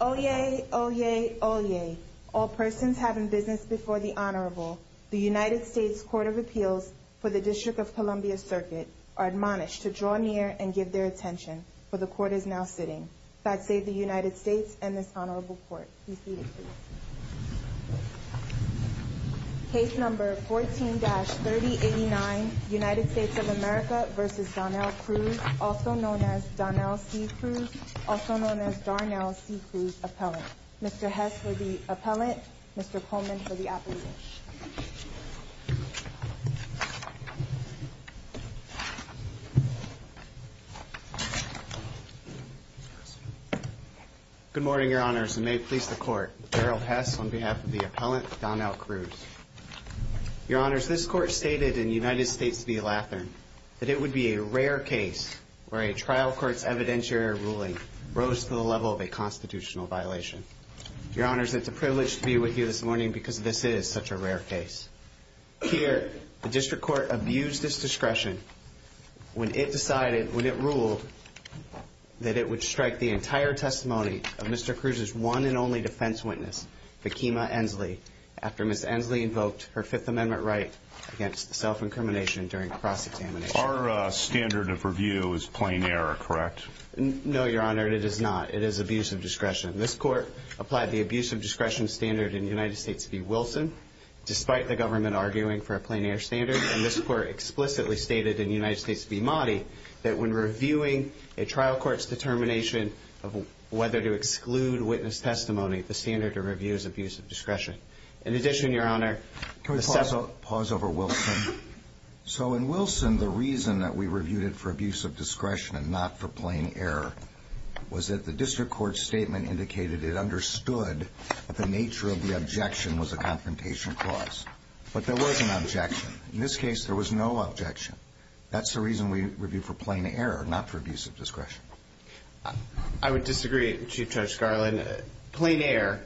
Oyez! Oyez! Oyez! All persons have in business before the Honorable, the United States Court of Appeals for the District of Columbia Circuit, are admonished to draw near and give their attention, for the Court is now sitting. God save the United States and this Honorable Court. Please be seated, please. Case number 14-3089, United States of America v. Donnell Crews, also known as Donnell C. Crews, also known as Darnell C. Crews Appellant. Mr. Hess for the Appellant, Mr. Coleman for the Appellant. Good morning, Your Honors, and may it please the Court, Darrell Hess on behalf of the Appellant, Donnell Crews. Your Honors, this Court stated in United States v. Latham that it would be a rare case where a trial court's evidentiary ruling rose to the level of a constitutional violation. Your Honors, it's a privilege to be with you this morning because this is such a rare case. Here, the District Court abused its discretion when it decided, when it ruled, that it would strike the entire testimony of Mr. Crews' one and only defense witness, Vickima Ensley, after Ms. Ensley invoked her Fifth Amendment right against self-incrimination during cross-examination. Our standard of review is plein air, correct? No, Your Honor, it is not. It is abuse of discretion. This Court applied the abuse of discretion standard in United States v. Wilson, despite the government arguing for a plein air standard, and this Court explicitly stated in United States v. Mahdi that when reviewing a trial court's determination of whether to exclude witness testimony, the standard of review is abuse of discretion. In addition, Your Honor... Can we pause over Wilson? So in Wilson, the reason that we reviewed it for abuse of discretion and not for plein air was that the District Court's statement indicated it understood that the nature of the objection was a confrontation clause. But there was an objection. In this case, there was no objection. That's the reason we reviewed for plein air, not for abuse of discretion. I would disagree, Chief Judge Scarlin. Plein air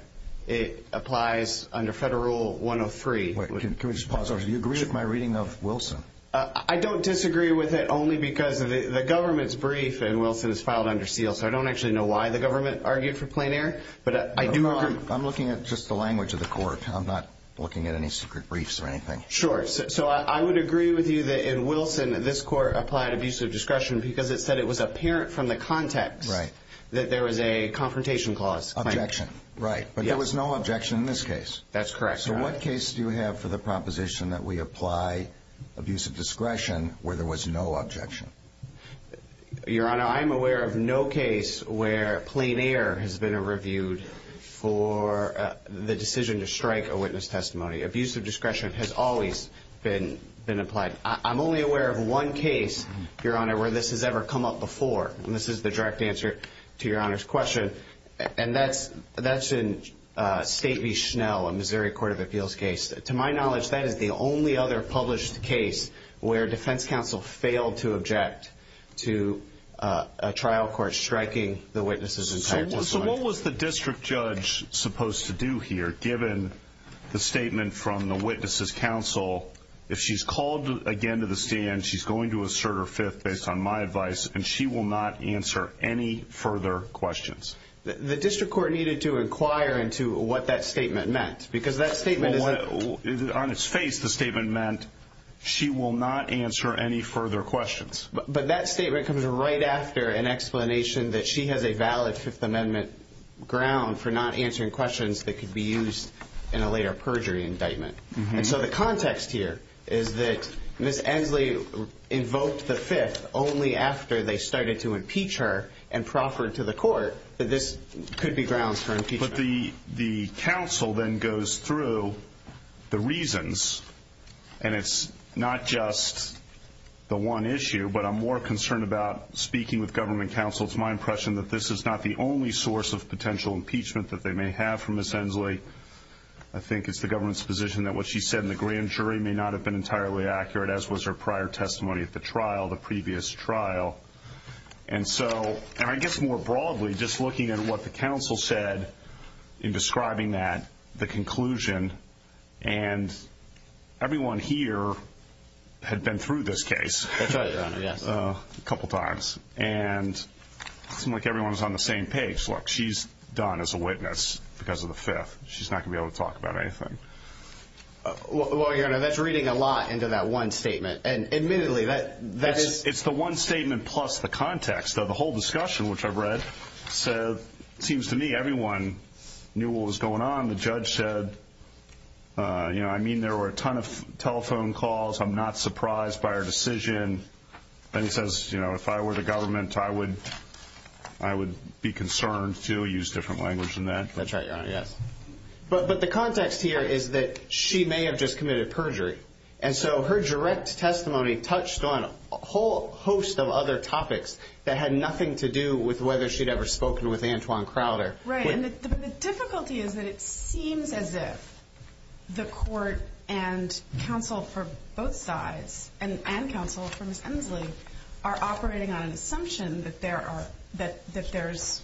applies under Federal Rule 103. Wait, can we just pause over? Do you agree with my reading of Wilson? I don't disagree with it only because the government's brief in Wilson is filed under seal, so I don't actually know why the government argued for plein air, but I do agree... I'm looking at just the language of the Court. I'm not looking at any secret briefs or anything. Sure. So I would agree with you that in Wilson, this Court applied abuse of discretion because it said it was apparent from the context that there was a confrontation clause. Objection. Right. But there was no objection in this case. That's correct, Your Honor. So what case do you have for the proposition that we apply abuse of discretion where there was no objection? Your Honor, I'm aware of no case where plein air has been reviewed for the decision to strike a witness testimony. Abuse of discretion has always been applied. I'm only aware of one case, Your Honor, where this has ever come up before, and this is the direct answer to Your Honor's question, and that's in State v. Schnell, a Missouri Court of Appeals case. To my knowledge, that is the only other published case where a defense counsel failed to object to a trial court striking the witness's entire testimony. So what was the district judge supposed to do here, given the statement from the witness's counsel, if she's called again to the stand, she's going to assert her fifth based on my advice, and she will not answer any further questions? The district court needed to inquire into what that statement meant, because that statement is... On its face, the statement meant she will not answer any further questions. But that statement comes right after an explanation that she has a valid Fifth Amendment ground for not answering questions that could be used in a later perjury indictment. And so the context here is that Ms. Ensley invoked the fifth only after they started to impeach her and proffered to the court that this could be grounds for impeachment. But the counsel then goes through the reasons, and it's not just the one issue, but I'm more concerned about speaking with government counsel. It's my impression that this is not the only source of potential impeachment that they may have for Ms. Ensley. I think it's the government's position that what she said in the grand jury may not have been entirely accurate, as was her prior testimony at the trial, the previous trial. And so, I guess more broadly, just looking at what the counsel said in describing that, the conclusion, and everyone here had been through this case a couple times. And it seemed like everyone was on the same page. Look, she's done as a witness because of the fifth. She's not going to be able to talk about anything. Well, Your Honor, that's reading a lot into that one statement. And admittedly, that is – It's the one statement plus the context of the whole discussion, which I've read. So it seems to me everyone knew what was going on. The judge said, you know, I mean, there were a ton of telephone calls. I'm not surprised by her decision. And he says, you know, if I were the government, I would be concerned to use different language than that. That's right, Your Honor, yes. But the context here is that she may have just committed perjury. And so her direct testimony touched on a whole host of other topics that had nothing to do with whether she'd ever spoken with Antoine Crowder. Right. And the difficulty is that it seems as if the court and counsel for both sides and counsel for Ms. Emslie are operating on an assumption that there's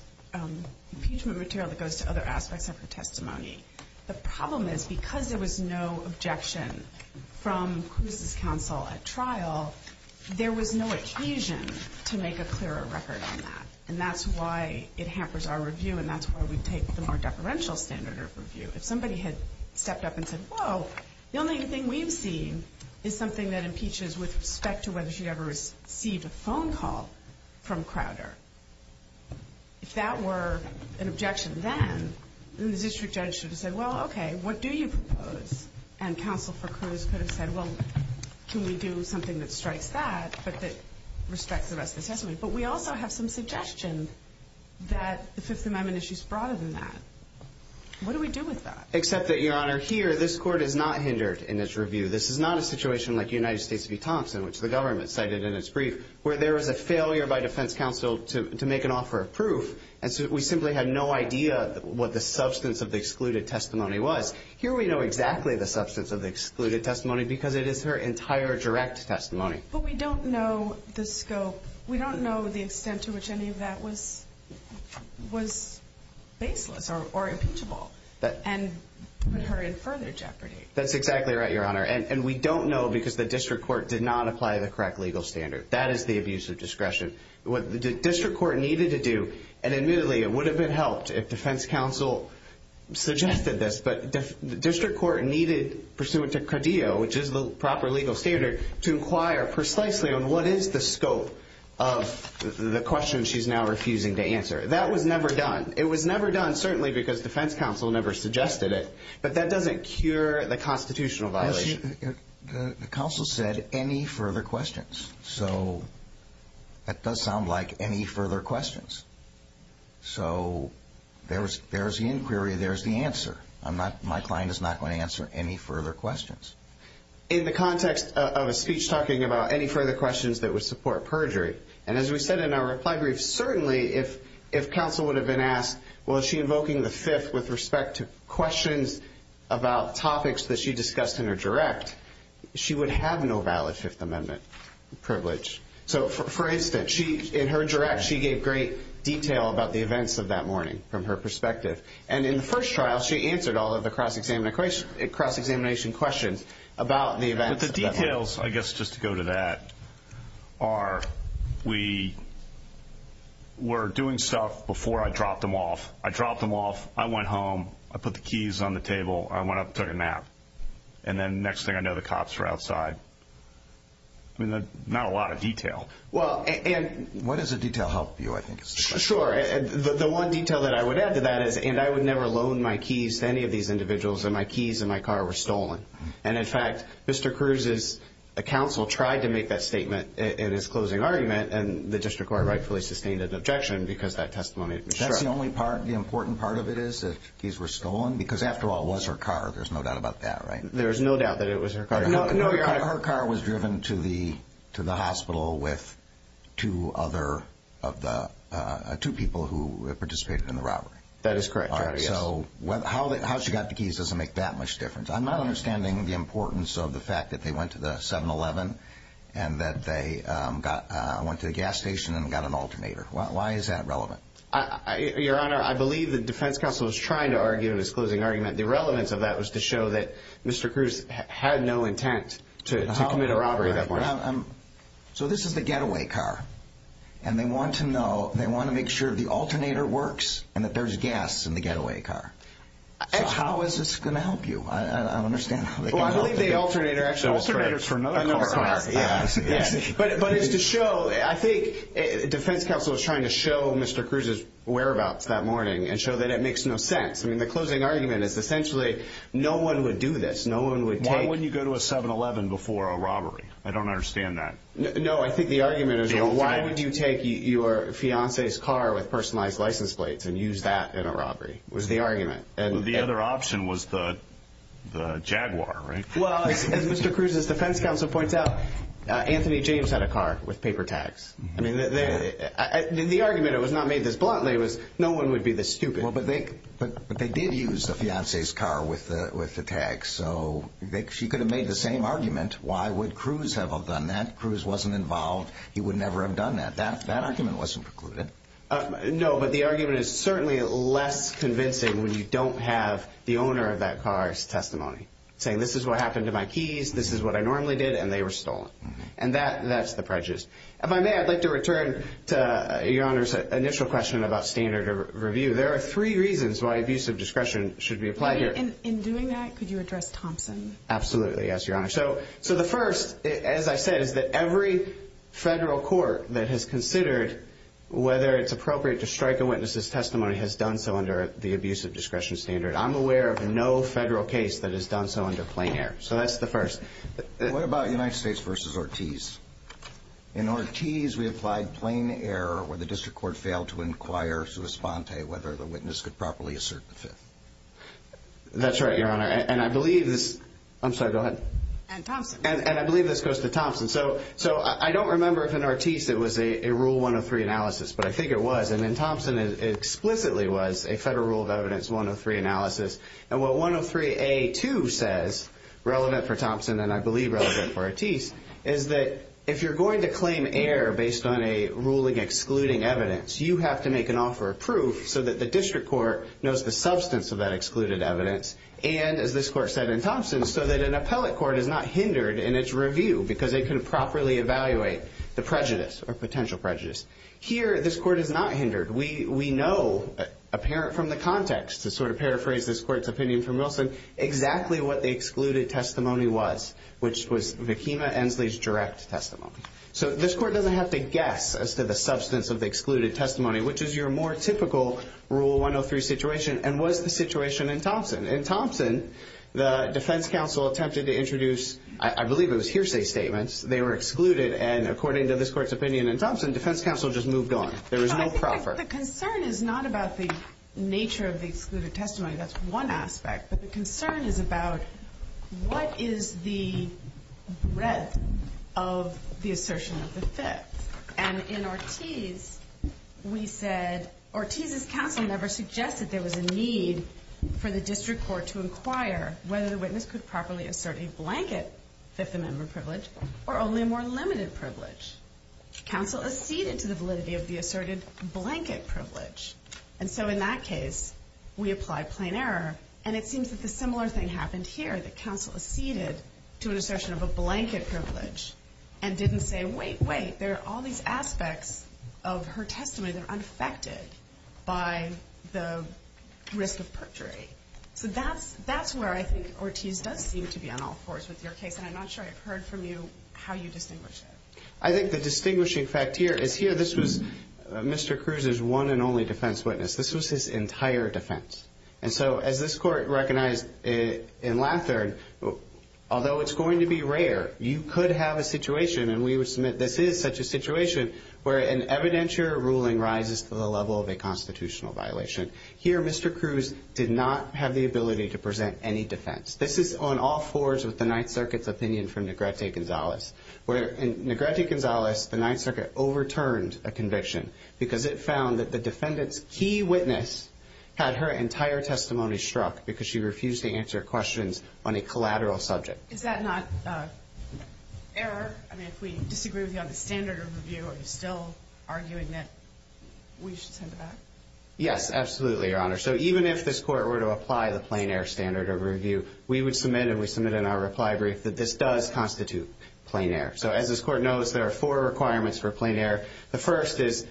impeachment material that goes to other aspects of her testimony. The problem is because there was no objection from Cruz's counsel at trial, there was no occasion to make a clearer record on that. And that's why it hampers our review, and that's why we take the more deferential standard of review. If somebody had stepped up and said, whoa, the only thing we've seen is something that impeaches with respect to whether she'd ever received a phone call from Crowder. If that were an objection then, then the district judge should have said, well, okay, what do you propose? And counsel for Cruz could have said, well, can we do something that strikes that but that respects the rest of the testimony? But we also have some suggestion that the Fifth Amendment issues broader than that. What do we do with that? Except that, Your Honor, here this court is not hindered in its review. This is not a situation like United States v. Thompson, which the government cited in its brief, where there was a failure by defense counsel to make an offer of proof. And so we simply had no idea what the substance of the excluded testimony was. Here we know exactly the substance of the excluded testimony because it is her entire direct testimony. But we don't know the scope. We don't know the extent to which any of that was baseless or impeachable and put her in further jeopardy. That's exactly right, Your Honor. And we don't know because the district court did not apply the correct legal standard. That is the abuse of discretion. What the district court needed to do, and admittedly it would have been helped if defense counsel suggested this, but the district court needed, pursuant to Cardeo, which is the proper legal standard, to inquire precisely on what is the scope of the question she's now refusing to answer. That was never done. It was never done certainly because defense counsel never suggested it. But that doesn't cure the constitutional violation. The counsel said any further questions. So that does sound like any further questions. So there's the inquiry. There's the answer. My client is not going to answer any further questions. In the context of a speech talking about any further questions that would support perjury, and as we said in our reply brief, certainly if counsel would have been asked, well, is she invoking the Fifth with respect to questions about topics that she discussed in her direct, she would have no valid Fifth Amendment privilege. So, for instance, in her direct, she gave great detail about the events of that morning from her perspective. And in the first trial, she answered all of the cross-examination questions about the events. The details, I guess, just to go to that, are we were doing stuff before I dropped them off. I dropped them off. I went home. I put the keys on the table. I went up and took a nap. And then next thing I know, the cops were outside. I mean, not a lot of detail. Well, and what does the detail help you, I think? Sure. The one detail that I would add to that is, and I would never loan my keys to any of these individuals, and my keys in my car were stolen. And, in fact, Mr. Cruz's counsel tried to make that statement in his closing argument, and the district court rightfully sustained an objection because that testimony was true. That's the only part, the important part of it is that keys were stolen? Because, after all, it was her car. There's no doubt about that, right? There's no doubt that it was her car. Her car was driven to the hospital with two people who participated in the robbery. That is correct, Your Honor. So how she got the keys doesn't make that much difference. I'm not understanding the importance of the fact that they went to the 7-Eleven and that they went to the gas station and got an alternator. Why is that relevant? Your Honor, I believe the defense counsel was trying to argue in his closing argument. The relevance of that was to show that Mr. Cruz had no intent to commit a robbery at that point. So this is the getaway car, and they want to know, they want to make sure the alternator works and that there's gas in the getaway car. So how is this going to help you? I don't understand how they can help you. Well, I believe the alternator actually was correct. Alternator is for another car. But it's to show, I think, defense counsel was trying to show Mr. Cruz's whereabouts that morning and show that it makes no sense. I mean, the closing argument is essentially no one would do this. No one would take it. Why wouldn't you go to a 7-Eleven before a robbery? I don't understand that. No, I think the argument is why would you take your fiancé's car with personalized license plates and use that in a robbery was the argument. The other option was the Jaguar, right? Well, as Mr. Cruz's defense counsel points out, Anthony James had a car with paper tags. I mean, the argument, it was not made this bluntly, was no one would be this stupid. But they did use the fiancé's car with the tags. So she could have made the same argument. Why would Cruz have done that? Cruz wasn't involved. He would never have done that. That argument wasn't precluded. No, but the argument is certainly less convincing when you don't have the owner of that car's testimony saying this is what happened to my keys, this is what I normally did, and they were stolen. And that's the prejudice. If I may, I'd like to return to Your Honor's initial question about standard of review. There are three reasons why abuse of discretion should be applied here. In doing that, could you address Thompson? Absolutely, yes, Your Honor. So the first, as I said, is that every federal court that has considered whether it's appropriate to strike a witness's testimony has done so under the abuse of discretion standard. I'm aware of no federal case that has done so under plain error. So that's the first. What about United States v. Ortiz? In Ortiz, we applied plain error where the district court failed to inquire sui sponte whether the witness could properly assert the fifth. That's right, Your Honor, and I believe this goes to Thompson. So I don't remember if in Ortiz it was a Rule 103 analysis, but I think it was, and in Thompson it explicitly was a federal rule of evidence 103 analysis. And what 103A2 says, relevant for Thompson and I believe relevant for Ortiz, is that if you're going to claim error based on a ruling excluding evidence, you have to make an offer of proof so that the district court knows the substance of that excluded evidence and, as this court said in Thompson, so that an appellate court is not hindered in its review because they couldn't properly evaluate the prejudice or potential prejudice. Here, this court is not hindered. We know, apparent from the context, to sort of paraphrase this court's opinion from Wilson, exactly what the excluded testimony was, which was Vakima Ensley's direct testimony. So this court doesn't have to guess as to the substance of the excluded testimony, which is your more typical Rule 103 situation and was the situation in Thompson. In Thompson, the defense counsel attempted to introduce, I believe it was hearsay statements. They were excluded, and according to this court's opinion in Thompson, defense counsel just moved on. There was no proffer. The concern is not about the nature of the excluded testimony. That's one aspect. But the concern is about what is the breadth of the assertion of the Fifth. And in Ortiz, we said, Ortiz's counsel never suggested there was a need for the district court to inquire whether the witness could properly assert a blanket Fifth Amendment privilege or only a more limited privilege. Counsel acceded to the validity of the asserted blanket privilege. And so in that case, we applied plain error. And it seems that the similar thing happened here, that counsel acceded to an assertion of a blanket privilege and didn't say, wait, wait, there are all these aspects of her testimony that are unaffected by the risk of perjury. So that's where I think Ortiz does seem to be on all fours with your case, and I'm not sure I've heard from you how you distinguish it. I think the distinguishing fact here is here this was Mr. Cruz's one and only defense witness. This was his entire defense. And so as this court recognized in Lathard, although it's going to be rare, you could have a situation, and we would submit this is such a situation, where an evidentiary ruling rises to the level of a constitutional violation. Here Mr. Cruz did not have the ability to present any defense. This is on all fours with the Ninth Circuit's opinion from Negrete Gonzalez. In Negrete Gonzalez, the Ninth Circuit overturned a conviction because it found that the defendant's key witness had her entire testimony struck because she refused to answer questions on a collateral subject. Is that not error? I mean, if we disagree with you on the standard of review, are you still arguing that we should send it back? Yes, absolutely, Your Honor. So even if this court were to apply the plein air standard of review, we would submit, and we submitted in our reply brief, that this does constitute plein air. So as this court knows, there are four requirements for plein air. The first is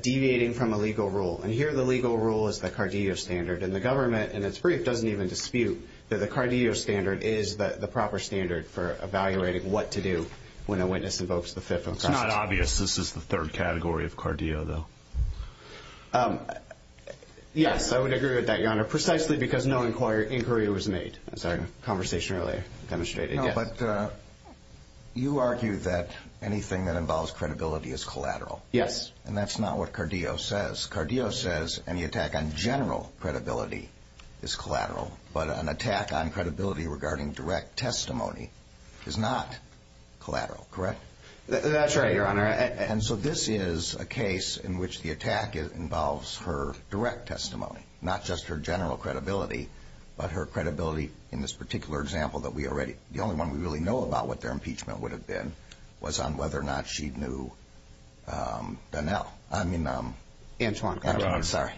deviating from a legal rule, and here the legal rule is the Cardio standard, and the government in its brief doesn't even dispute that the Cardio standard is the proper standard for evaluating what to do when a witness invokes the fifth impression. It's not obvious this is the third category of Cardio, though. Yes, I would agree with that, Your Honor, precisely because no inquiry was made. I'm sorry, conversation earlier demonstrated, yes. But you argue that anything that involves credibility is collateral. Yes. And that's not what Cardio says. Cardio says any attack on general credibility is collateral, but an attack on credibility regarding direct testimony is not collateral, correct? That's right, Your Honor. And so this is a case in which the attack involves her direct testimony, not just her general credibility, but her credibility in this particular example that we already, the only one we really know about what their impeachment would have been, was on whether or not she knew Donnell. I mean, Antoine Carter. I'm sorry.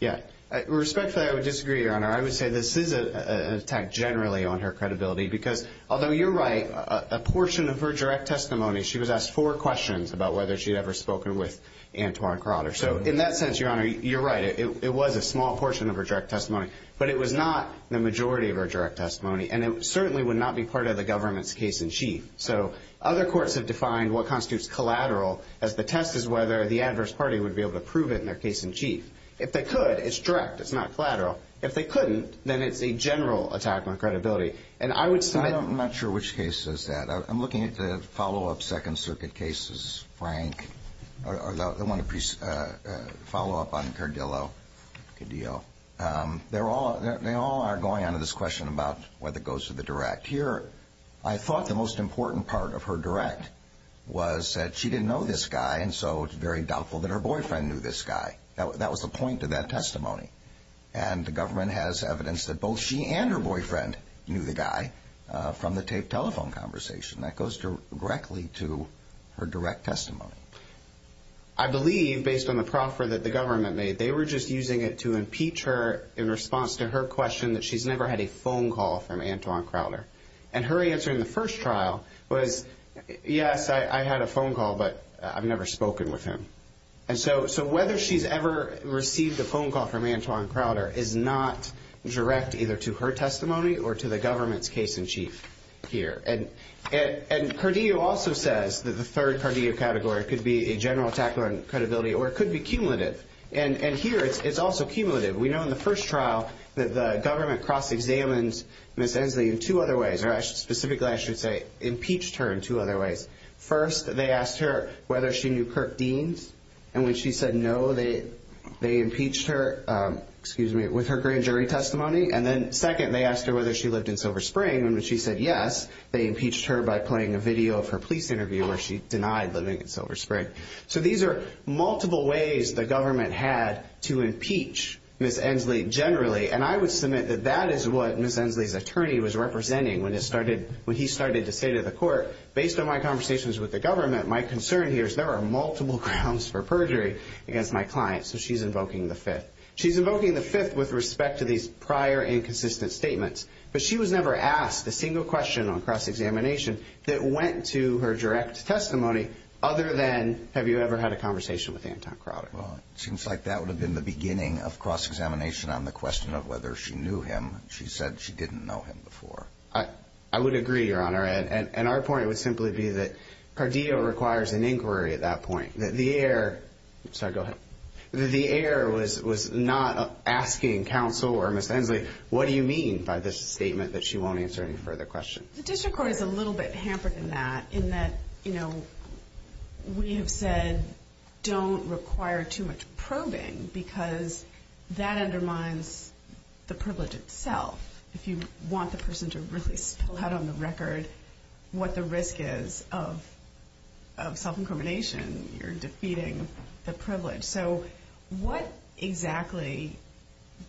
Yeah. Respectfully, I would disagree, Your Honor. I would say this is an attack generally on her credibility, because although you're right, a portion of her direct testimony, she was asked four questions about whether she had ever spoken with Antoine Carter. So in that sense, Your Honor, you're right. It was a small portion of her direct testimony, but it was not the majority of her direct testimony, and it certainly would not be part of the government's case-in-chief. So other courts have defined what constitutes collateral as the test is whether the adverse party would be able to prove it in their case-in-chief. If they could, it's direct. It's not collateral. If they couldn't, then it's a general attack on credibility. I'm not sure which case is that. I'm looking at the follow-up Second Circuit cases, Frank. I want to follow up on Cardillo. They all are going on to this question about whether it goes to the direct. Here, I thought the most important part of her direct was that she didn't know this guy, and so it's very doubtful that her boyfriend knew this guy. That was the point of that testimony, and the government has evidence that both she and her boyfriend knew the guy from the taped telephone conversation. That goes directly to her direct testimony. I believe, based on the proffer that the government made, they were just using it to impeach her in response to her question that she's never had a phone call from Antoine Crowder, and her answer in the first trial was, yes, I had a phone call, but I've never spoken with him. So whether she's ever received a phone call from Antoine Crowder is not direct either to her testimony or to the government's case-in-chief here. And Cardillo also says that the third Cardillo category could be a general attack on credibility or it could be cumulative, and here it's also cumulative. We know in the first trial that the government cross-examined Ms. Ensley in two other ways, or specifically I should say impeached her in two other ways. First, they asked her whether she knew Kirk Deans, and when she said no, they impeached her with her grand jury testimony, and then second, they asked her whether she lived in Silver Spring, and when she said yes, they impeached her by playing a video of her police interview where she denied living in Silver Spring. So these are multiple ways the government had to impeach Ms. Ensley generally, and I would submit that that is what Ms. Ensley's attorney was representing when he started to say to the court, based on my conversations with the government, my concern here is there are multiple grounds for perjury against my client, so she's invoking the fifth. She's invoking the fifth with respect to these prior inconsistent statements, but she was never asked a single question on cross-examination that went to her direct testimony other than have you ever had a conversation with Anton Crowder. Well, it seems like that would have been the beginning of cross-examination on the question of whether she knew him. She said she didn't know him before. I would agree, Your Honor, and our point would simply be that Cardillo requires an inquiry at that point, that the heir was not asking counsel or Ms. Ensley, what do you mean by this statement that she won't answer any further questions? The district court is a little bit hampered in that, in that, you know, we have said don't require too much probing because that undermines the privilege itself. If you want the person to really spell out on the record what the risk is of self-incrimination, you're defeating the privilege. So what exactly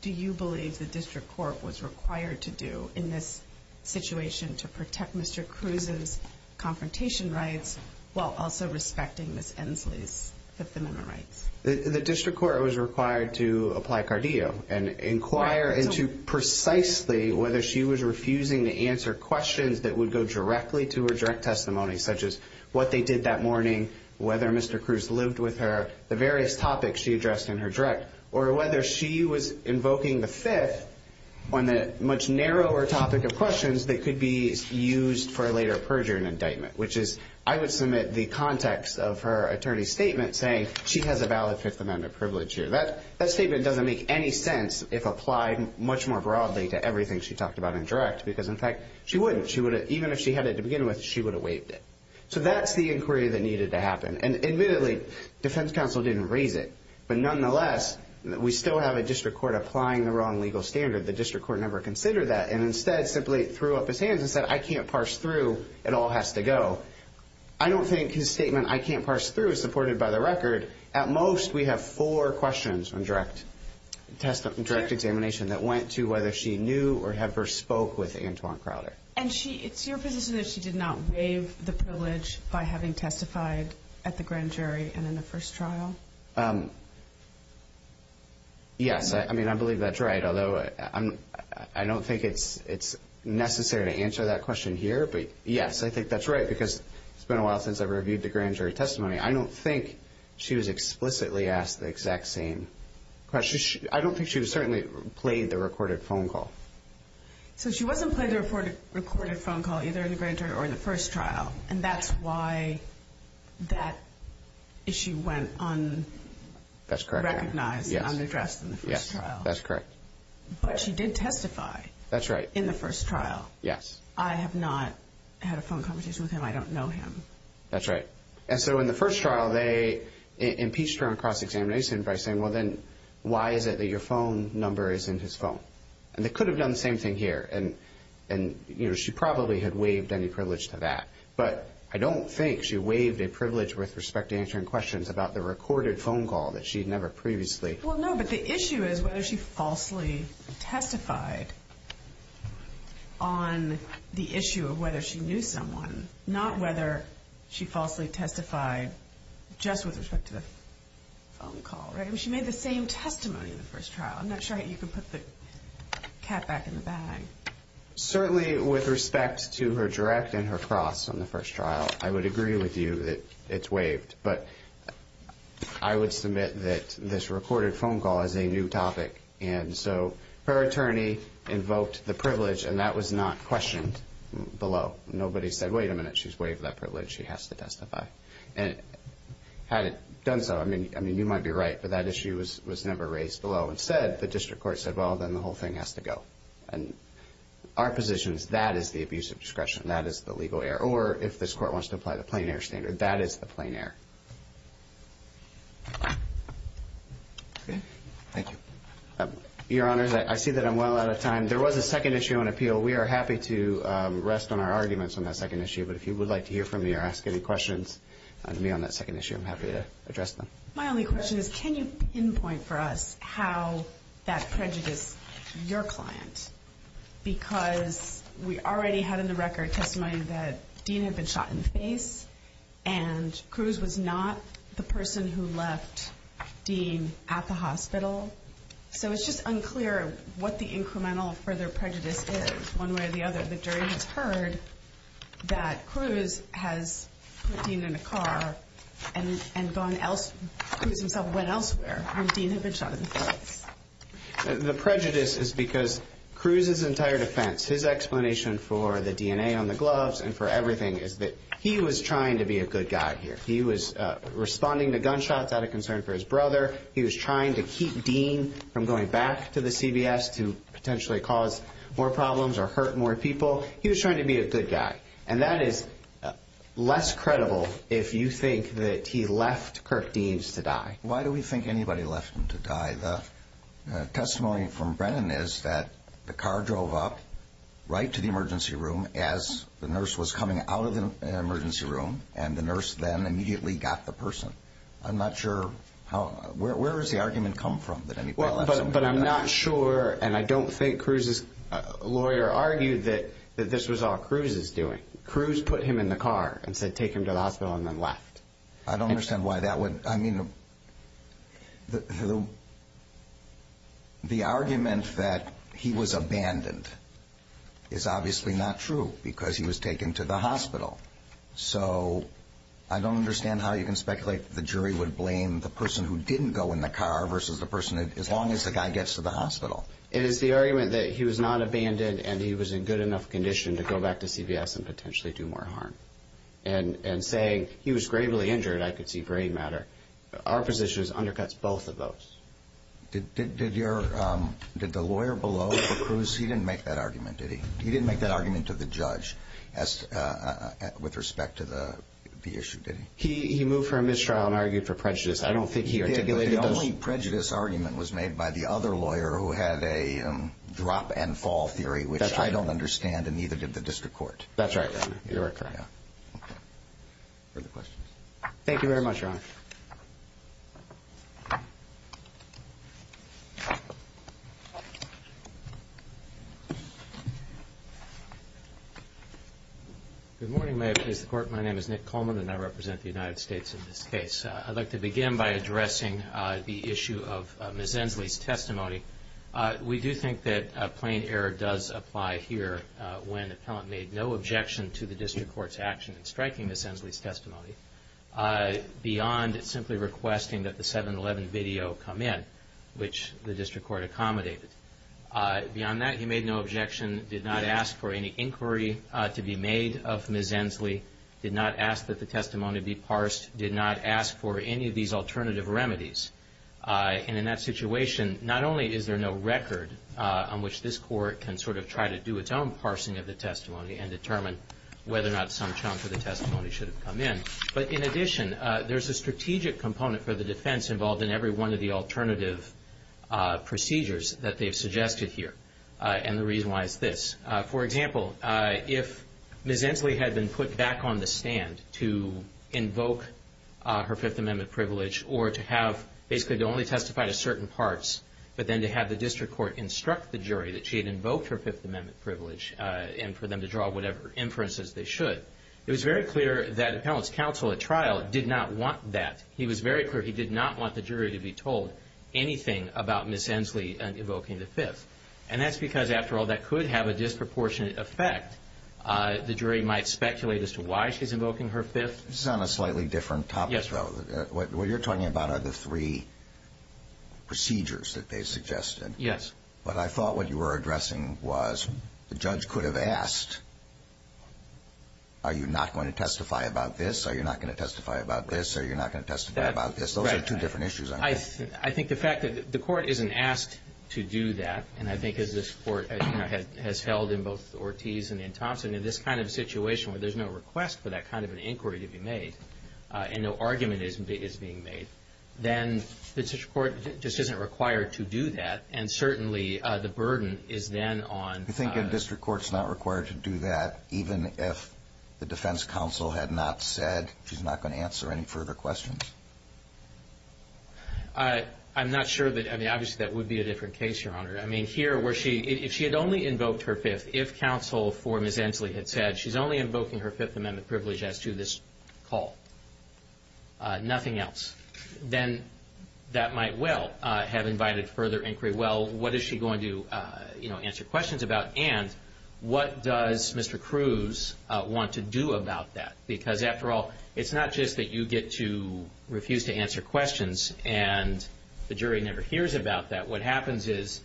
do you believe the district court was required to do in this situation to protect Mr. Cruz's confrontation rights while also respecting Ms. Ensley's feminine rights? The district court was required to apply Cardillo and inquire into precisely whether she was refusing to answer questions that would go directly to her direct testimony, such as what they did that morning, whether Mr. Cruz lived with her, the various topics she addressed in her direct, or whether she was invoking the Fifth on the much narrower topic of questions that could be used for a later perjury and indictment, which is I would submit the context of her attorney's statement saying she has a valid Fifth Amendment privilege here. That statement doesn't make any sense if applied much more broadly to everything she talked about in direct because, in fact, she wouldn't. Even if she had it to begin with, she would have waived it. So that's the inquiry that needed to happen. And admittedly, defense counsel didn't raise it. But nonetheless, we still have a district court applying the wrong legal standard. The district court never considered that and instead simply threw up his hands and said, I can't parse through. It all has to go. I don't think his statement, I can't parse through, is supported by the record. At most, we have four questions in direct examination that went to whether she knew or had first spoke with Antoine Crowder. And it's your position that she did not waive the privilege by having testified at the grand jury and in the first trial? Yes. I mean, I believe that's right, although I don't think it's necessary to answer that question here. But, yes, I think that's right because it's been a while since I've reviewed the grand jury testimony. I don't think she was explicitly asked the exact same question. I don't think she certainly played the recorded phone call. So she wasn't playing the recorded phone call either in the grand jury or in the first trial, and that's why that issue went unrecognized and unaddressed in the first trial. That's correct. But she did testify in the first trial. I have not had a phone conversation with him. I don't know him. That's right. And so in the first trial, they impeached her on cross-examination by saying, well, then why is it that your phone number is in his phone? And they could have done the same thing here, and, you know, she probably had waived any privilege to that. But I don't think she waived a privilege with respect to answering questions about the recorded phone call that she had never previously. Well, no, but the issue is whether she falsely testified on the issue of whether she knew someone, not whether she falsely testified just with respect to the phone call, right? I mean, she made the same testimony in the first trial. I'm not sure you can put the cat back in the bag. Certainly with respect to her direct and her cross on the first trial, I would agree with you that it's waived. But I would submit that this recorded phone call is a new topic. And so her attorney invoked the privilege, and that was not questioned below. Nobody said, wait a minute, she's waived that privilege, she has to testify. And had it done so, I mean, you might be right, but that issue was never raised below. Instead, the district court said, well, then the whole thing has to go. And our position is that is the abuse of discretion, that is the legal error. Or if this court wants to apply the plain error standard, that is the plain error. Thank you. Your Honors, I see that I'm well out of time. There was a second issue on appeal. We are happy to rest on our arguments on that second issue. But if you would like to hear from me or ask any questions on that second issue, I'm happy to address them. My only question is, can you pinpoint for us how that prejudiced your client? Because we already had in the record testimony that Dean had been shot in the face, and Cruz was not the person who left Dean at the hospital. So it's just unclear what the incremental further prejudice is, one way or the other. The jury has heard that Cruz has put Dean in a car and gone elsewhere. Cruz himself went elsewhere when Dean had been shot in the face. The prejudice is because Cruz's entire defense, his explanation for the DNA on the gloves and for everything, is that he was trying to be a good guy here. He was responding to gunshots out of concern for his brother. He was trying to keep Dean from going back to the CBS to potentially cause more problems or hurt more people. He was trying to be a good guy. And that is less credible if you think that he left Kirk Deans to die. Why do we think anybody left him to die? The testimony from Brennan is that the car drove up right to the emergency room as the nurse was coming out of the emergency room, and the nurse then immediately got the person. I'm not sure how, where does the argument come from that anybody left somebody to die? But I'm not sure, and I don't think Cruz's lawyer argued that this was all Cruz's doing. Cruz put him in the car and said take him to the hospital and then left. I don't understand why that would, I mean, the argument that he was abandoned is obviously not true because he was taken to the hospital. So I don't understand how you can speculate that the jury would blame the person who didn't go in the car versus the person that, as long as the guy gets to the hospital. It is the argument that he was not abandoned and he was in good enough condition to go back to CBS and potentially do more harm. And saying he was gravely injured, I could see gray matter. Our position is it undercuts both of those. Did your, did the lawyer below for Cruz, he didn't make that argument, did he? He didn't make that argument to the judge with respect to the issue, did he? He moved for a mistrial and argued for prejudice. I don't think he articulated those. The only prejudice argument was made by the other lawyer who had a drop and fall theory, which I don't understand and neither did the district court. That's right. You're correct. Okay. Further questions? Thank you very much, Your Honor. Good morning. My name is Nick Coleman and I represent the United States in this case. I'd like to begin by addressing the issue of Ms. Ensley's testimony. We do think that plain error does apply here when the appellant made no objection to the district court's action in striking Ms. Ensley's testimony beyond simply requesting that the 7-11 video come in, which the district court accommodated. Beyond that, he made no objection, did not ask for any inquiry to be made of Ms. Ensley, did not ask that the testimony be parsed, did not ask for any of these alternative remedies. And in that situation, not only is there no record on which this court can sort of try to do its own parsing of the testimony and determine whether or not some chunk of the testimony should have come in, but in addition, there's a strategic component for the defense involved in every one of the alternative procedures that they've suggested here, and the reason why is this. For example, if Ms. Ensley had been put back on the stand to invoke her Fifth Amendment privilege or to have basically to only testify to certain parts but then to have the district court instruct the jury that she had invoked her Fifth Amendment privilege and for them to draw whatever inferences they should, it was very clear that appellant's counsel at trial did not want that. He was very clear he did not want the jury to be told anything about Ms. Ensley invoking the Fifth. And that's because, after all, that could have a disproportionate effect. The jury might speculate as to why she's invoking her Fifth. This is on a slightly different topic, though. What you're talking about are the three procedures that they suggested. Yes. But I thought what you were addressing was the judge could have asked, are you not going to testify about this, are you not going to testify about this, are you not going to testify about this? Those are two different issues, aren't they? I think the fact that the court isn't asked to do that, and I think as this court has held in both Ortiz and in Thompson, in this kind of situation where there's no request for that kind of an inquiry to be made and no argument is being made, then the district court just isn't required to do that and certainly the burden is then on... You think a district court's not required to do that, even if the defense counsel had not said she's not going to answer any further questions? I'm not sure. I mean, obviously that would be a different case, Your Honor. I mean, here, if she had only invoked her Fifth, if counsel for Ms. Ensley had said she's only invoking her Fifth Amendment privilege as to this call, nothing else, then that might well have invited further inquiry. Well, what is she going to answer questions about? And what does Mr. Cruz want to do about that? Because, after all, it's not just that you get to refuse to answer questions and the jury never hears about that. What happens is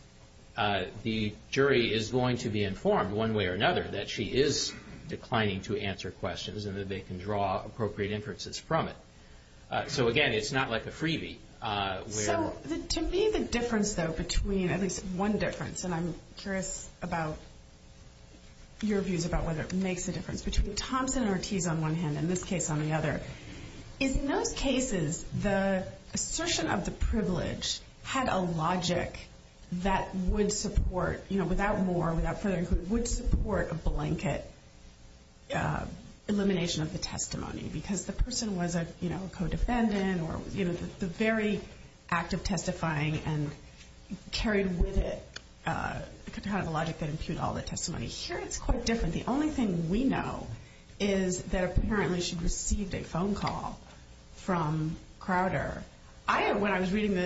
the jury is going to be informed one way or another that she is declining to answer questions and that they can draw appropriate inferences from it. So, again, it's not like a freebie. So, to me, the difference, though, between at least one difference, and I'm curious about your views about whether it makes a difference, between Thompson and Ortiz on one hand and this case on the other, is in those cases the assertion of the privilege had a logic that would support, without more, without further inquiry, would support a blanket elimination of the testimony because the person was a co-defendant or, you know, the very act of testifying and carried with it kind of a logic that impugned all the testimony. Here, it's quite different. The only thing we know is that, apparently, she received a phone call from Crowder. When I was reading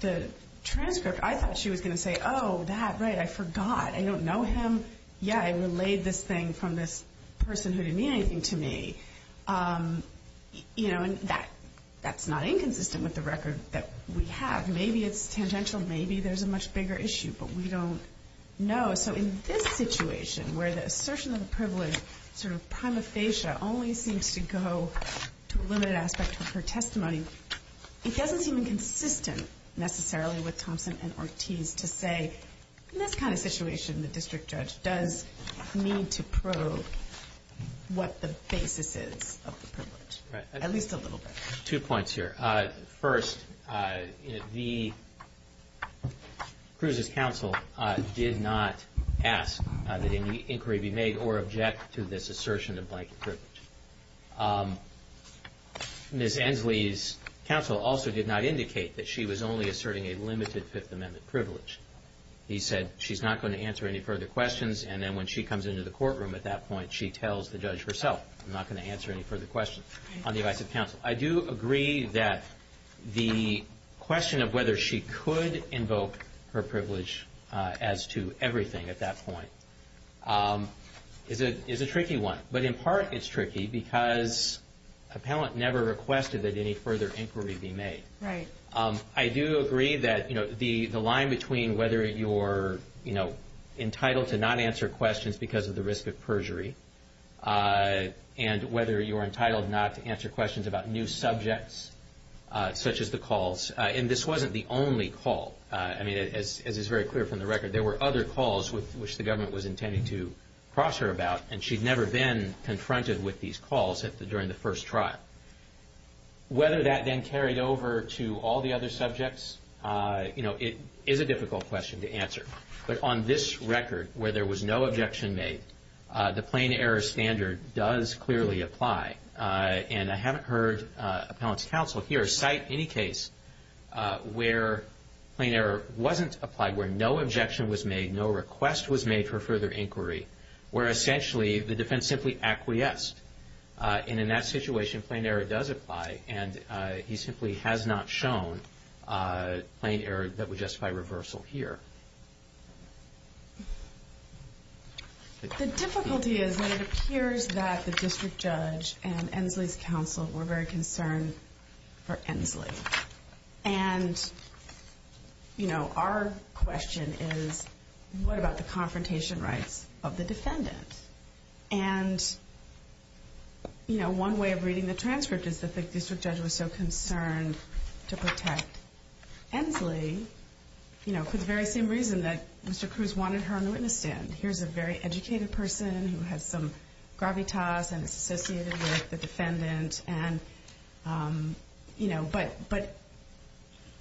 the transcript, I thought she was going to say, oh, that, right, I forgot, I don't know him. Yeah, I relayed this thing from this person who didn't mean anything to me. You know, and that's not inconsistent with the record that we have. Maybe it's tangential. Maybe there's a much bigger issue, but we don't know. So, in this situation, where the assertion of the privilege, sort of prima facie, only seems to go to a limited aspect of her testimony, it doesn't seem consistent, necessarily, with Thompson and Ortiz to say, in this kind of situation, the district judge does need to probe what the basis is of the privilege, at least a little bit. Two points here. First, Cruz's counsel did not ask that any inquiry be made or object to this assertion of blanket privilege. Ms. Ensley's counsel also did not indicate that she was only asserting a limited Fifth Amendment privilege. He said she's not going to answer any further questions, and then when she comes into the courtroom at that point, she tells the judge herself, I'm not going to answer any further questions on the advice of counsel. I do agree that the question of whether she could invoke her privilege as to everything at that point is a tricky one. But in part, it's tricky because appellant never requested that any further inquiry be made. Right. I do agree that the line between whether you're entitled to not answer questions because of the risk of perjury and whether you're entitled not to answer questions about new subjects, such as the calls, and this wasn't the only call. As is very clear from the record, there were other calls which the government was intending to cross her about, and she'd never been confronted with these calls during the first trial. Whether that then carried over to all the other subjects, it is a difficult question to answer. But on this record, where there was no objection made, the plain error standard does clearly apply. And I haven't heard appellant's counsel here cite any case where plain error wasn't applied, where no objection was made, no request was made for further inquiry, where essentially the defense simply acquiesced. And in that situation, plain error does apply, and he simply has not shown plain error that would justify reversal here. The difficulty is that it appears that the district judge and Ensley's counsel were very concerned for Ensley. And, you know, our question is, what about the confrontation rights of the defendant? And, you know, one way of reading the transcript is that the district judge was so concerned to protect Ensley, you know, for the very same reason that Mr. Cruz wanted her on the witness stand. Here's a very educated person who has some gravitas, and it's associated with the defendant, and, you know, but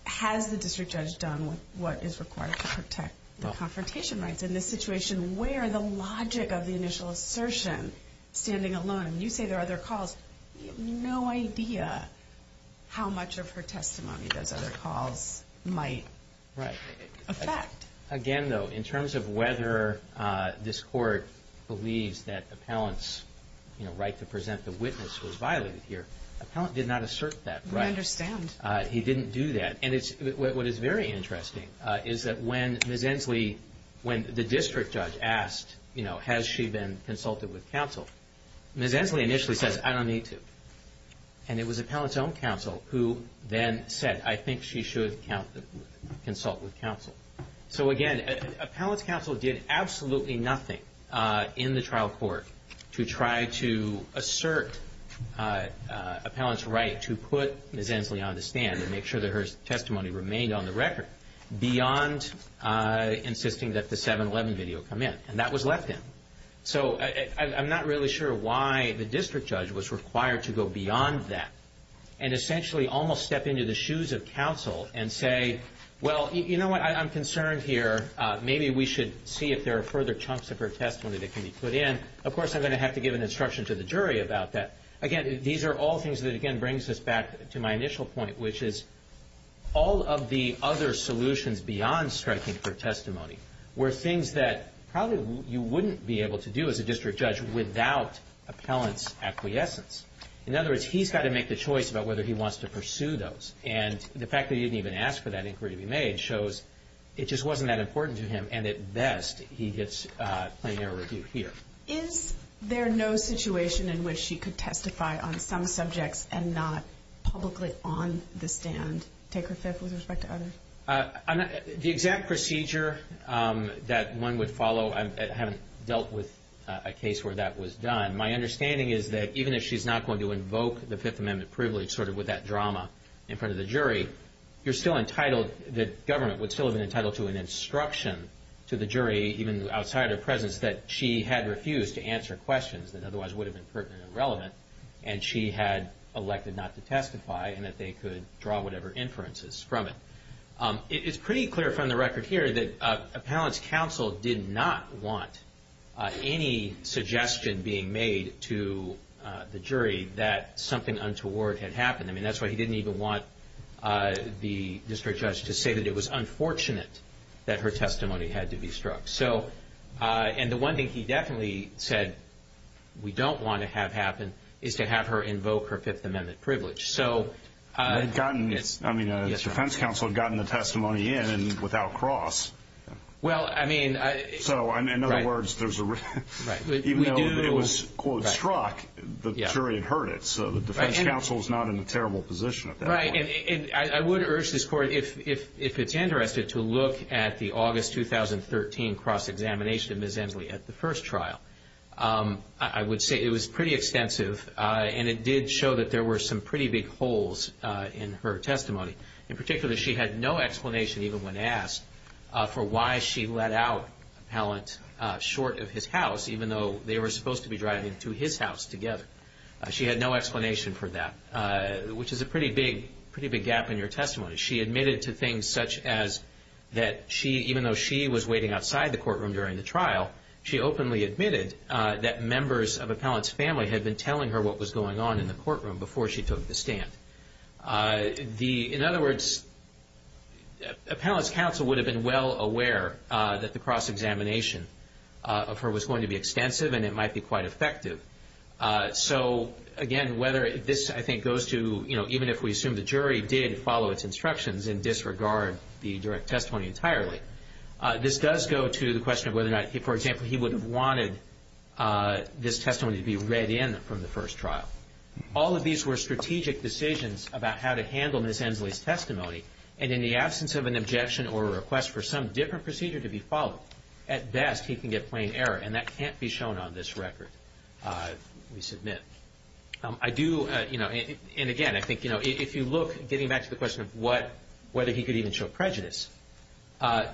has the district judge done what is required to protect the confrontation rights? In this situation, where the logic of the initial assertion, standing alone, and you say there are other calls, you have no idea how much of her testimony those other calls might affect. Again, though, in terms of whether this court believes that appellant's right to present the witness was violated here, appellant did not assert that. We understand. He didn't do that. And what is very interesting is that when Ms. Ensley, when the district judge asked, you know, has she been consulted with counsel, Ms. Ensley initially says, I don't need to. And it was appellant's own counsel who then said, I think she should consult with counsel. So, again, appellant's counsel did absolutely nothing in the trial court to try to assert appellant's right to put Ms. Ensley on the stand and make sure that her testimony remained on the record beyond insisting that the 7-11 video come in. And that was left in. So I'm not really sure why the district judge was required to go beyond that and essentially almost step into the shoes of counsel and say, well, you know what, I'm concerned here. Maybe we should see if there are further chunks of her testimony that can be put in. Of course, I'm going to have to give an instruction to the jury about that. Again, these are all things that, again, brings us back to my initial point, which is all of the other solutions beyond striking for testimony were things that probably you wouldn't be able to do as a district judge without appellant's acquiescence. In other words, he's got to make the choice about whether he wants to pursue those. And the fact that he didn't even ask for that inquiry to be made shows it just wasn't that important to him, and at best he gets plain error review here. Is there no situation in which she could testify on some subjects and not publicly on the stand, take her fifth with respect to others? The exact procedure that one would follow, I haven't dealt with a case where that was done. My understanding is that even if she's not going to invoke the Fifth Amendment privilege, sort of with that drama in front of the jury, you're still entitled, the government would still have been entitled to an instruction to the jury, even outside her presence, that she had refused to answer questions that otherwise would have been pertinent and relevant, and she had elected not to testify and that they could draw whatever inferences from it. It's pretty clear from the record here that appellant's counsel did not want any suggestion being made to the jury that something untoward had happened. I mean, that's why he didn't even want the district judge to say that it was unfortunate that her testimony had to be struck. And the one thing he definitely said, we don't want to have happen, is to have her invoke her Fifth Amendment privilege. I mean, his defense counsel had gotten the testimony in and without cross. Well, I mean... So, in other words, even though it was, quote, struck, the jury had heard it, I would urge this Court, if it's interested, to look at the August 2013 cross-examination of Ms. Ensley at the first trial. I would say it was pretty extensive, and it did show that there were some pretty big holes in her testimony. In particular, she had no explanation, even when asked, for why she let out appellant short of his house, even though they were supposed to be driving to his house together. She had no explanation for that, which is a pretty big gap in her testimony. She admitted to things such as that even though she was waiting outside the courtroom during the trial, she openly admitted that members of appellant's family had been telling her what was going on in the courtroom before she took the stand. In other words, appellant's counsel would have been well aware that the cross-examination of her was going to be extensive and it might be quite effective. So, again, whether this, I think, goes to, you know, even if we assume the jury did follow its instructions and disregard the direct testimony entirely, this does go to the question of whether or not, for example, he would have wanted this testimony to be read in from the first trial. All of these were strategic decisions about how to handle Ms. Ensley's testimony, and in the absence of an objection or a request for some different procedure to be followed, at best, he can get plain error, and that can't be shown on this record, we submit. I do, you know, and again, I think, you know, if you look, getting back to the question of what, whether he could even show prejudice,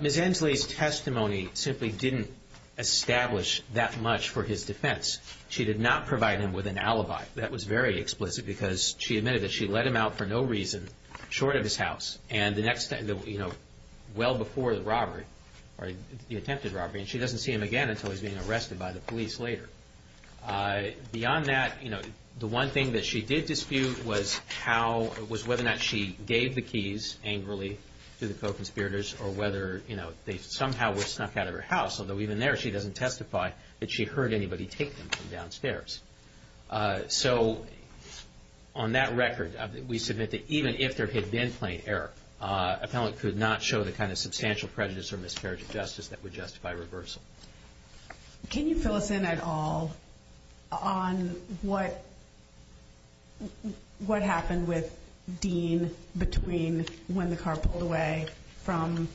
Ms. Ensley's testimony simply didn't establish that much for his defense. She did not provide him with an alibi. That was very explicit because she admitted that she let him out for no reason short of his house, and the next, you know, well before the robbery, or the attempted robbery, and she doesn't see him again until he's being arrested by the police later. Beyond that, you know, the one thing that she did dispute was how, was whether or not she gave the keys angrily to the co-conspirators, or whether, you know, they somehow were snuck out of her house, although even there she doesn't testify that she heard anybody take them from downstairs. So on that record, we submit that even if there had been plain error, a felon could not show the kind of substantial prejudice or miscarriage of justice that would justify reversal. Can you fill us in at all on what happened with Dean between when the car pulled away from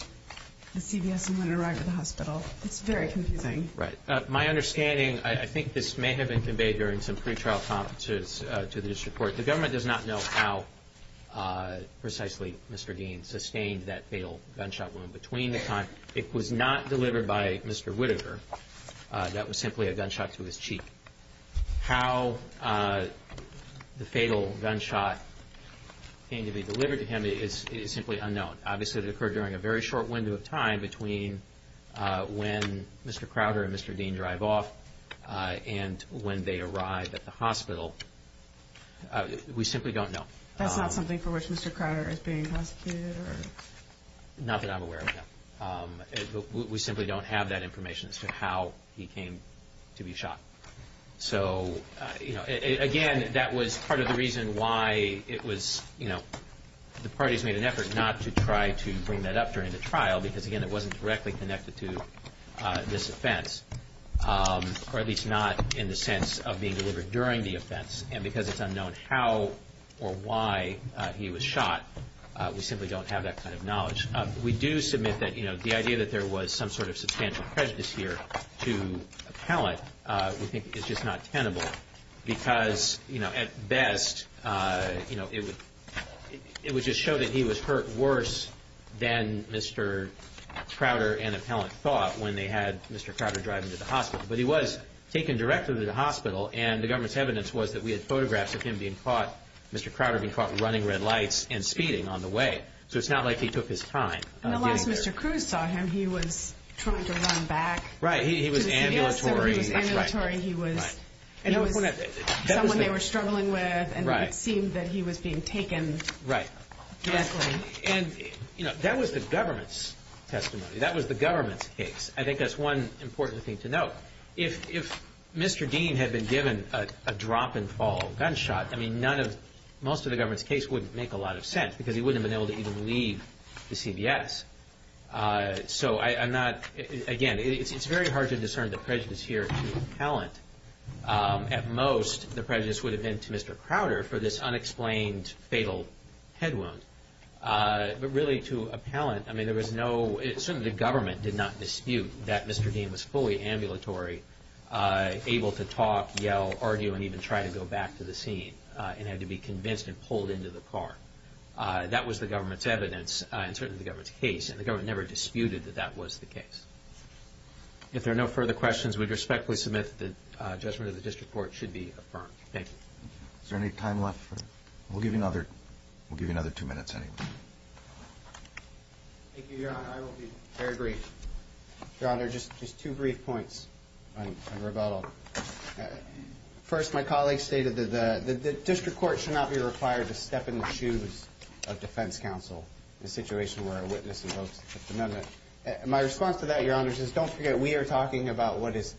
the CVS and when it arrived at the hospital? It's very confusing. Right. My understanding, I think this may have been conveyed during some pre-trial conferences to the district court. The government does not know how precisely Mr. Dean sustained that fatal gunshot wound. Between the time it was not delivered by Mr. Whittaker, that was simply a gunshot to his cheek. How the fatal gunshot came to be delivered to him is simply unknown. Obviously, it occurred during a very short window of time between when Mr. Crowder and Mr. Dean drive off and when they arrived at the hospital. We simply don't know. That's not something for which Mr. Crowder is being prosecuted? Not that I'm aware of, no. We simply don't have that information as to how he came to be shot. Again, that was part of the reason why the parties made an effort not to try to bring that up during the trial because it wasn't directly connected to this offense, or at least not in the sense of being delivered during the offense. Because it's unknown how or why he was shot, we simply don't have that kind of knowledge. We do submit that the idea that there was some sort of substantial prejudice here to Appellant is just not tenable because, at best, it would just show that he was hurt worse than Mr. Crowder and Appellant thought when they had Mr. Crowder driving to the hospital. But he was taken directly to the hospital, and the government's evidence was that we had photographs of him being caught, Mr. Crowder being caught running red lights and speeding on the way. So it's not like he took his time. And the last Mr. Cruz saw him, he was trying to run back. Right, he was ambulatory. He was someone they were struggling with, and it seemed that he was being taken directly. And that was the government's testimony. That was the government's case. I think that's one important thing to note. If Mr. Dean had been given a drop-and-fall gunshot, most of the government's case wouldn't make a lot of sense because he wouldn't have been able to even leave the CBS. So I'm not – again, it's very hard to discern the prejudice here to Appellant. At most, the prejudice would have been to Mr. Crowder for this unexplained fatal head wound. But really to Appellant, I mean, there was no – certainly the government did not dispute that Mr. Dean was fully ambulatory, able to talk, yell, argue, and even try to go back to the scene, and had to be convinced and pulled into the car. That was the government's evidence, and certainly the government's case, and the government never disputed that that was the case. If there are no further questions, we'd respectfully submit that the judgment of the district court should be affirmed. Thank you. Is there any time left for – we'll give you another two minutes anyway. Thank you, Your Honor. I will be very brief. Your Honor, just two brief points on rebuttal. First, my colleague stated that the district court should not be required to step in the shoes of defense counsel in a situation where a witness invokes a commitment. My response to that, Your Honor, is don't forget we are talking about what is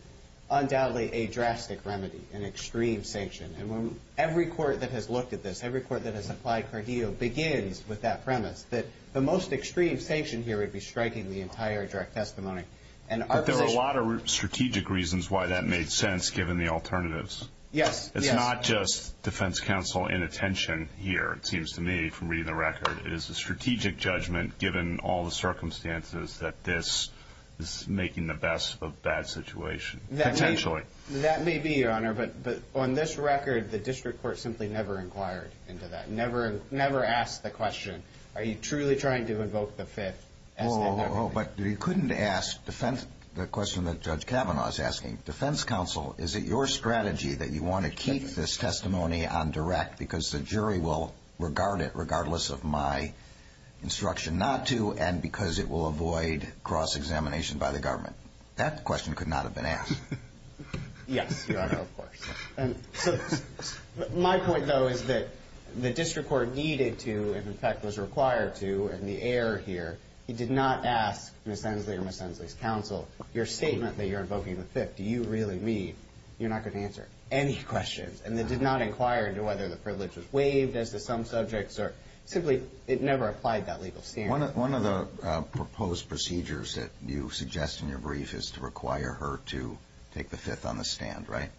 undoubtedly a drastic remedy, an extreme sanction. And when every court that has looked at this, every court that has applied Cardeo, begins with that premise, that the most extreme sanction here would be striking the entire direct testimony. But there are a lot of strategic reasons why that made sense, given the alternatives. Yes. It's not just defense counsel inattention here, it seems to me, from reading the record. It is a strategic judgment, given all the circumstances, that this is making the best of a bad situation, potentially. That may be, Your Honor, but on this record, the district court simply never inquired into that, never asked the question, are you truly trying to invoke the Fifth? Oh, but you couldn't ask the question that Judge Kavanaugh is asking. Defense counsel, is it your strategy that you want to keep this testimony on direct because the jury will regard it regardless of my instruction not to, and because it will avoid cross-examination by the government? That question could not have been asked. Yes, Your Honor, of course. My point, though, is that the district court needed to and, in fact, was required to, and the error here, it did not ask Ms. Ensley or Ms. Ensley's counsel, your statement that you're invoking the Fifth, do you really mean? You're not going to answer any questions. And it did not inquire into whether the privilege was waived as to some subjects, or simply it never applied that legal standard. One of the proposed procedures that you suggest in your brief is to require her to take the Fifth on the stand, right?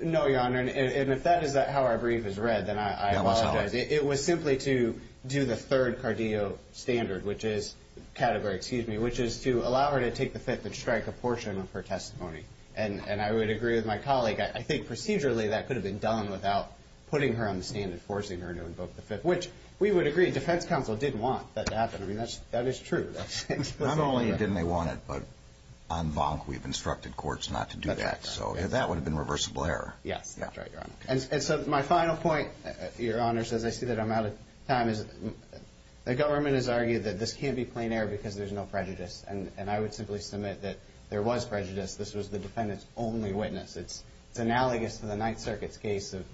No, Your Honor, and if that is how our brief is read, then I apologize. It was simply to do the third Cardeo standard, which is category, excuse me, which is to allow her to take the Fifth and strike a portion of her testimony. And I would agree with my colleague, I think procedurally that could have been done defense counsel didn't want that to happen. I mean, that is true. Not only didn't they want it, but en banc we've instructed courts not to do that. So that would have been reversible error. Yes, that's right, Your Honor. And so my final point, Your Honor, as I see that I'm out of time, is the government has argued that this can't be plain error because there's no prejudice. And I would simply submit that there was prejudice. This was the defendant's only witness. It's analogous to the Ninth Circuit's case of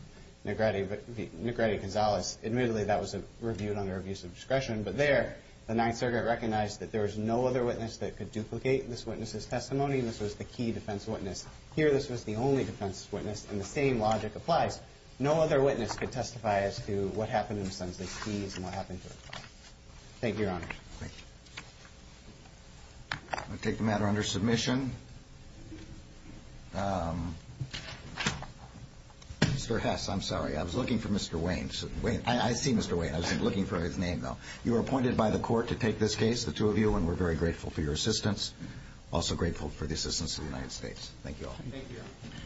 Negrete Gonzalez. Admittedly, that was reviewed under abuse of discretion. But there, the Ninth Circuit recognized that there was no other witness that could duplicate this witness's testimony. This was the key defense witness. Here, this was the only defense witness, and the same logic applies. No other witness could testify as to what happened to Ms. Sundsley's keys and what happened to her car. Thank you, Your Honor. Thank you. I'll take the matter under submission. Mr. Hess, I'm sorry. I was looking for Mr. Wayne. I see Mr. Wayne. I was looking for his name, though. You were appointed by the court to take this case, the two of you, and we're very grateful for your assistance. Also grateful for the assistance of the United States. Thank you all. Thank you, Your Honor.